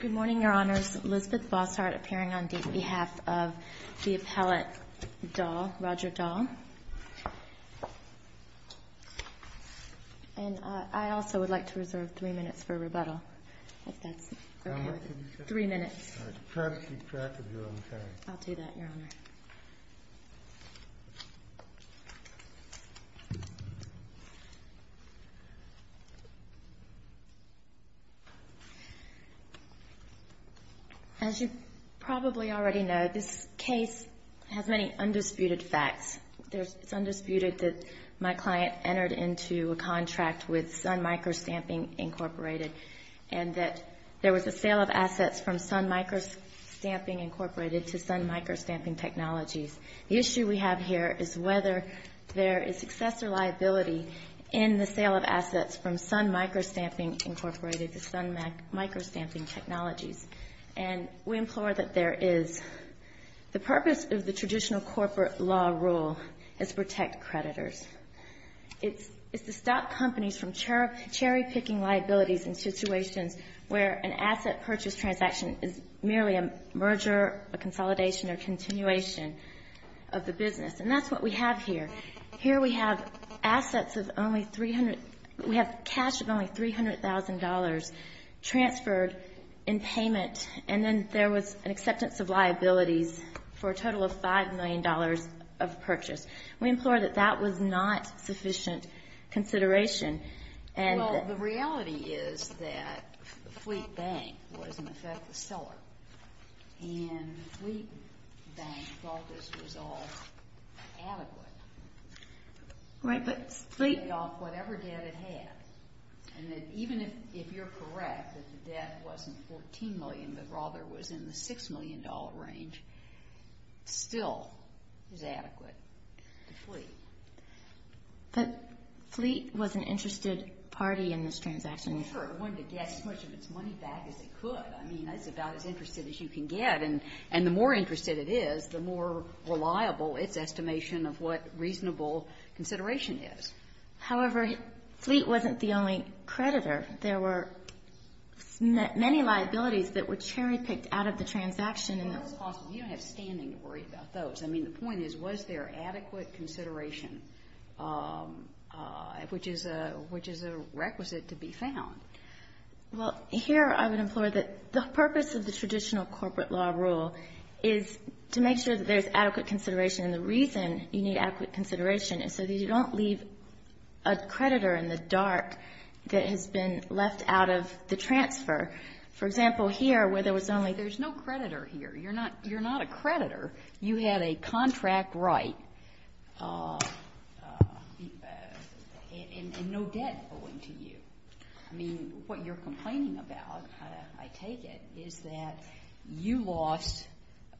Good morning, Your Honors. Elizabeth Bossart appearing on behalf of the appellate Dahl, Roger Dahl. And I also would like to reserve three minutes for rebuttal, if that's okay with you. Three minutes. As you probably already know, this case has many undisputed facts. It's undisputed that my client entered into a contract with Sun Microstamping Incorporated and that there was a sale of assets from Sun Microstamping Incorporated to Sun Microstamping Technologies. The issue we have here is whether there is success or liability in the sale of assets from Sun Microstamping Incorporated to Sun Microstamping Technologies. And we implore that there is. The purpose of the traditional corporate law rule is to protect creditors. It's to stop companies from cherry-picking liabilities in situations where an asset purchase transaction is merely a merger, a consolidation, or a continuation of the business. And that's what we have here. Here we have assets of only $300,000, we have cash of only $300,000 transferred in payment, and then there was an acceptance of liabilities for a total of $5 million of purchase. We implore that that was not sufficient consideration. Well, the reality is that Fleet Bank was, in effect, the seller. And Fleet Bank thought this was all adequate. Right, but Fleet... Whatever debt it had. And even if you're correct that the debt wasn't $14 million, but rather was in the $6 million range, still is adequate to Fleet. But Fleet was an interested party in this transaction. Well, sure. It wanted to get as much of its money back as it could. I mean, that's about as interested as you can get. And the more interested it is, the more reliable its estimation of what reasonable consideration is. However, Fleet wasn't the only creditor. There were many liabilities that were cherry-picked out of the transaction. You don't have standing to worry about those. I mean, the point is, was there adequate consideration, which is a requisite to be found? Well, here I would implore that the purpose of the traditional corporate law rule is to make sure that there's adequate consideration. And the reason you need adequate consideration is so that you don't leave a creditor in the dark that has been left out of the transfer. For example, here, where there was only, there's no creditor here. You're not a creditor. You had a contract right and no debt owing to you. I mean, what you're complaining about, I take it, is that you lost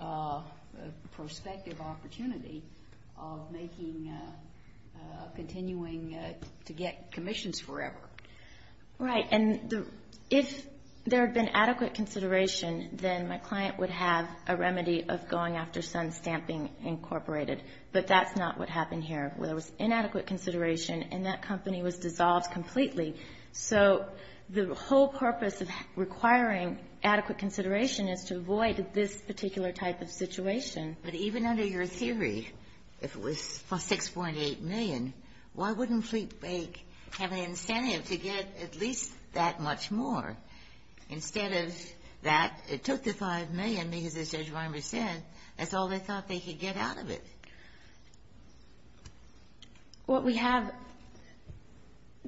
a prospective opportunity of making, continuing to get commissions forever. Right. And if there had been adequate consideration, then my client would have a remedy of going after Sun Stamping Incorporated. But that's not what happened here, where there was inadequate consideration and that company was dissolved completely. So the whole purpose of requiring adequate consideration is to avoid this particular type of situation. But even under your theory, if it was 6.8 million, why wouldn't Fleet Bank have an incentive to get at least that much more? Instead of that, it took the 5 million because, as Judge Weinberg said, that's all they thought they could get out of it. What we have,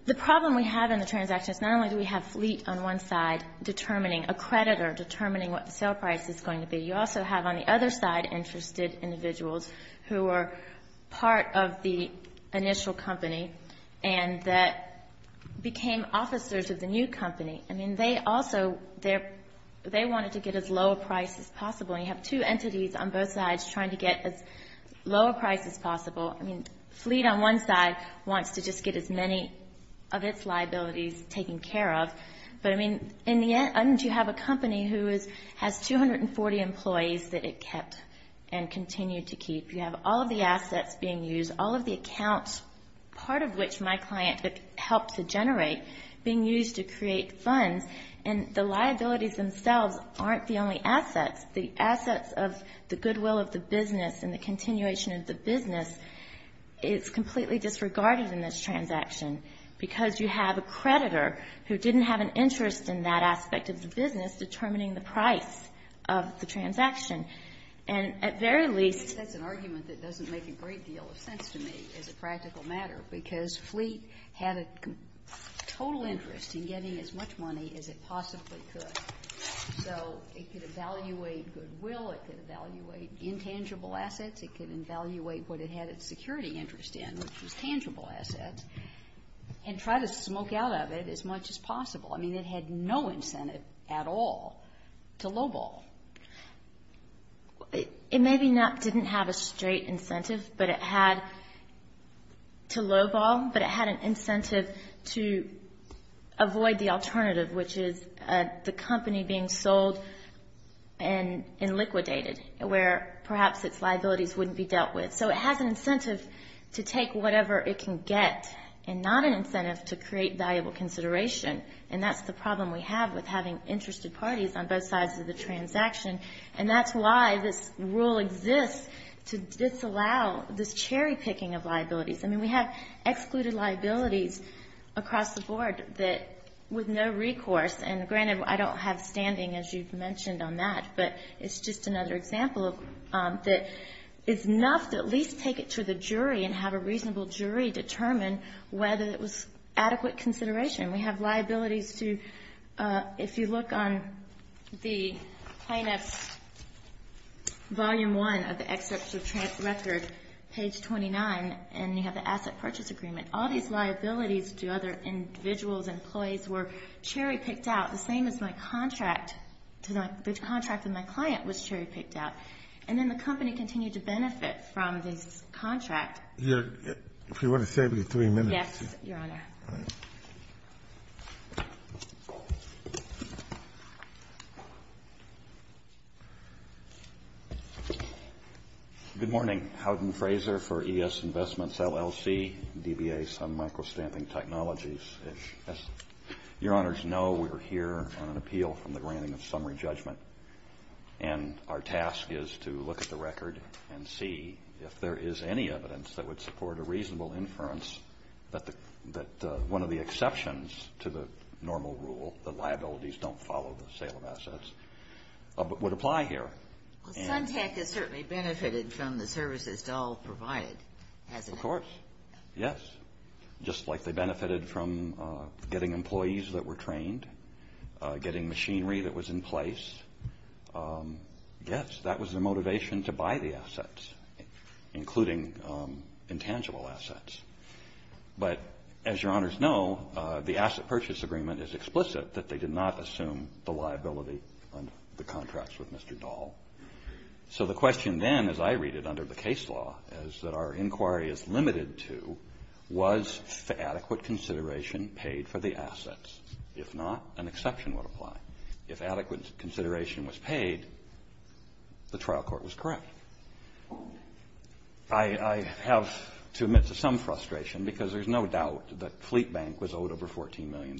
the problem we have in the transaction is not only do we have Fleet on one side determining a creditor, determining what the sale price is going to be. You also have on the other side interested individuals who are part of the initial company and that became officers of the new company. I mean, they also, they wanted to get as low a price as possible. And you have two entities on both sides trying to get as low a price as possible. I mean, Fleet on one side wants to just get as many of its liabilities taken care of. But, I mean, in the end you have a company who has 240 employees that it kept and continued to keep. You have all of the assets being used, all of the accounts, part of which my client helped to generate, being used to create funds. And the liabilities themselves aren't the only assets. The assets of the goodwill of the business and the continuation of the business is completely disregarded in this transaction because you have a creditor who didn't have an interest in that aspect of the business determining the price of the transaction. And at very least that's an argument that doesn't make a great deal of sense to me as a practical matter because Fleet had a total interest in getting as much money as it possibly could. So it could evaluate goodwill, it could evaluate intangible assets, it could evaluate what it had its security interest in, which was tangible assets, and try to smoke out of it as much as possible. I mean, it had no incentive at all to lowball. It maybe didn't have a straight incentive, but it had to lowball, but it had an incentive to avoid the alternative, which is the company being sold and liquidated, where perhaps its liabilities wouldn't be dealt with. So it has an incentive to take whatever it can get and not an incentive to create valuable consideration, and that's the problem we have with having interested parties on both sides of the transaction. And that's why this rule exists to disallow this cherry-picking of liabilities. I mean, we have excluded liabilities across the board that with no recourse, and granted, I don't have standing, as you've mentioned, on that, but it's just another example that it's enough to at least take it to the jury and have a reasonable jury determine whether it was adequate consideration. We have liabilities to, if you look on the plaintiff's Volume 1 of the Excerpts of Transfers Record, page 29, and you have the asset purchase agreement, all these liabilities to other individuals, employees were cherry-picked out, the same as my contract, the contract of my client was cherry-picked out. And then the company continued to benefit from this contract. If you want to save me three minutes. Yes, Your Honor. Good morning. Howden Fraser for ES Investments, LLC, DBA, Sun Microstamping Technologies. As Your Honors know, we are here on an appeal from the granting of summary judgment. And our task is to look at the record and see if there is any evidence that would support a reasonable inference that one of the exceptions to the normal rule, the liabilities don't follow the sale of assets, would apply here. Well, Sun Tech has certainly benefited from the services Dahl provided, hasn't it? Of course. Yes. Just like they benefited from getting employees that were trained, getting machinery that was in place, yes, that was their motivation to buy the assets, including intangible assets. But as Your Honors know, the asset purchase agreement is explicit that they did not assume the liability on the contracts with Mr. Dahl. So the question then, as I read it under the case law, is that our inquiry is limited to was the adequate consideration paid for the assets? If not, an exception would apply. If adequate consideration was paid, the trial court was correct. I have to admit to some frustration because there's no doubt that Fleet Bank was owed over $14 million.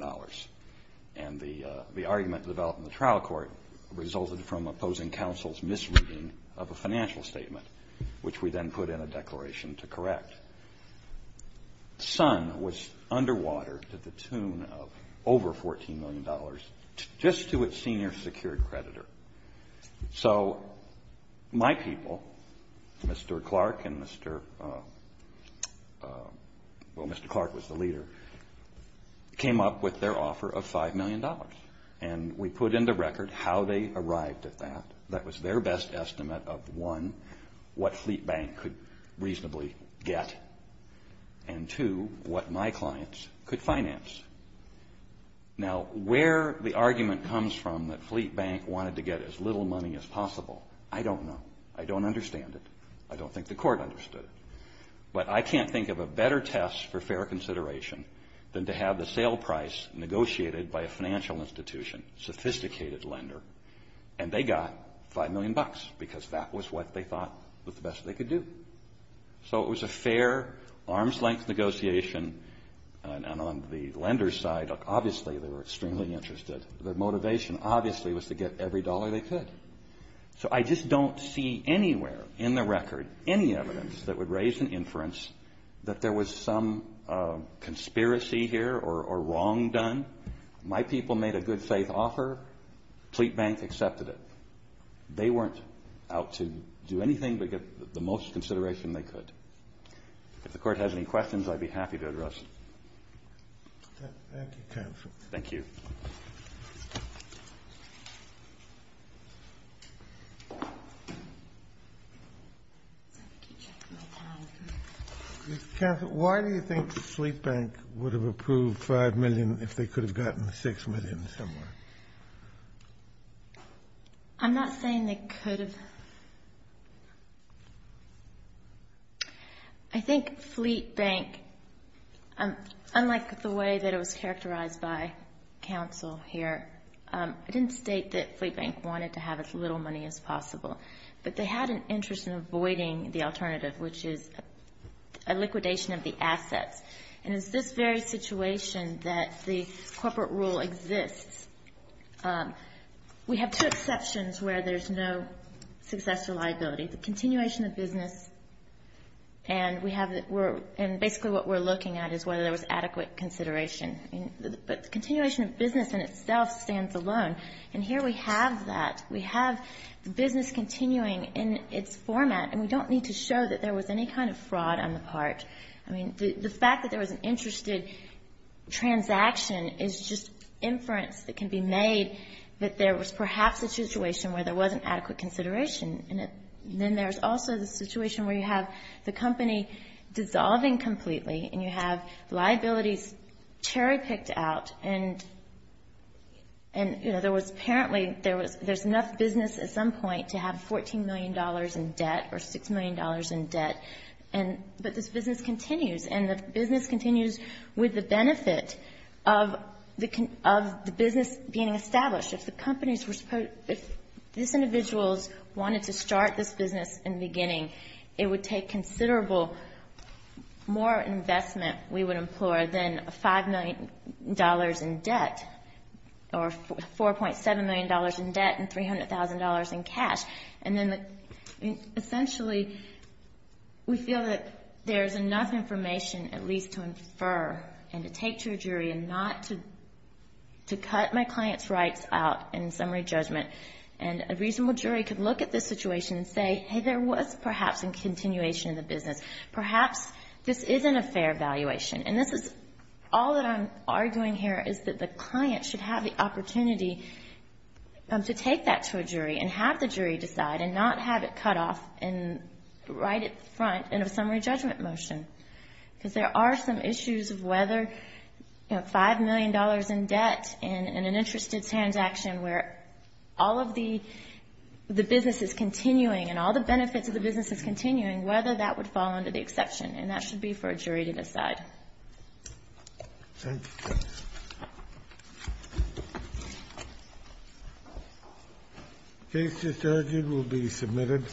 And the argument developed in the trial court resulted from opposing counsel's misreading of a financial statement, which we then put in a declaration to correct. Sun was underwater to the tune of over $14 million, just to its senior secured creditor. So my people, Mr. Clark and Mr. — well, Mr. Clark was the leader, came up with their offer of $5 million. And we put into record how they arrived at that. That was their best estimate of, one, what Fleet Bank could reasonably get, and, two, what my clients could finance. Now, where the argument comes from that Fleet Bank wanted to get as little money as possible, I don't know. I don't understand it. I don't think the court understood it. But I can't think of a better test for fair consideration than to have the sale price negotiated by a financial institution, sophisticated lender, and they got $5 million because that was what they thought was the best they could do. So it was a fair, arm's-length negotiation, and on the lender's side, obviously, they were extremely interested. Their motivation, obviously, was to get every dollar they could. So I just don't see anywhere in the record any evidence that would raise an inference that there was some conspiracy here or wrong done. My people made a good-faith offer. Fleet Bank accepted it. They weren't out to do anything but get the most consideration they could. If the court has any questions, I'd be happy to address them. Thank you, counsel. Thank you. Thank you. Counsel, why do you think Fleet Bank would have approved $5 million if they could have gotten $6 million somewhere? I'm not saying they could have. I think Fleet Bank, unlike the way that it was characterized by counsel here, I didn't state that Fleet Bank wanted to have as little money as possible, but they had an interest in avoiding the alternative, which is a liquidation of the assets. And it's this very situation that the corporate rule exists. We have two exceptions where there's no successful liability. The continuation of business and we have the work and basically what we're looking at is whether there was adequate consideration. But the continuation of business in itself stands alone. And here we have that. We have the business continuing in its format, and we don't need to show that there was any kind of fraud on the part. I mean, the fact that there was an interested transaction is just inference that can be made that there was perhaps a situation where there wasn't adequate consideration. And then there's also the situation where you have the company dissolving completely and you have liabilities cherry-picked out. And, you know, there was apparently there's enough business at some point to have $14 million in debt or $6 million in debt. But this business continues. And the business continues with the benefit of the business being established. If the companies were supposed to – if these individuals wanted to start this business in the beginning, it would take considerable more investment we would implore than $5 million in debt or $4.7 million in debt and $300,000 in cash. And then essentially we feel that there's enough information at least to infer and to take to a jury and not to cut my client's rights out in summary judgment. And a reasonable jury could look at this situation and say, hey, there was perhaps a continuation of the business. Perhaps this isn't a fair valuation. And this is – all that I'm arguing here is that the client should have the opportunity to take that to a jury and have the jury decide and not have it cut off right up front in a summary judgment motion. Because there are some issues of whether, you know, $5 million in debt and an interested transaction where all of the business is continuing and all the benefits of the business is continuing, whether that would fall under the exception. Thank you. The case is adjourned. It will be submitted.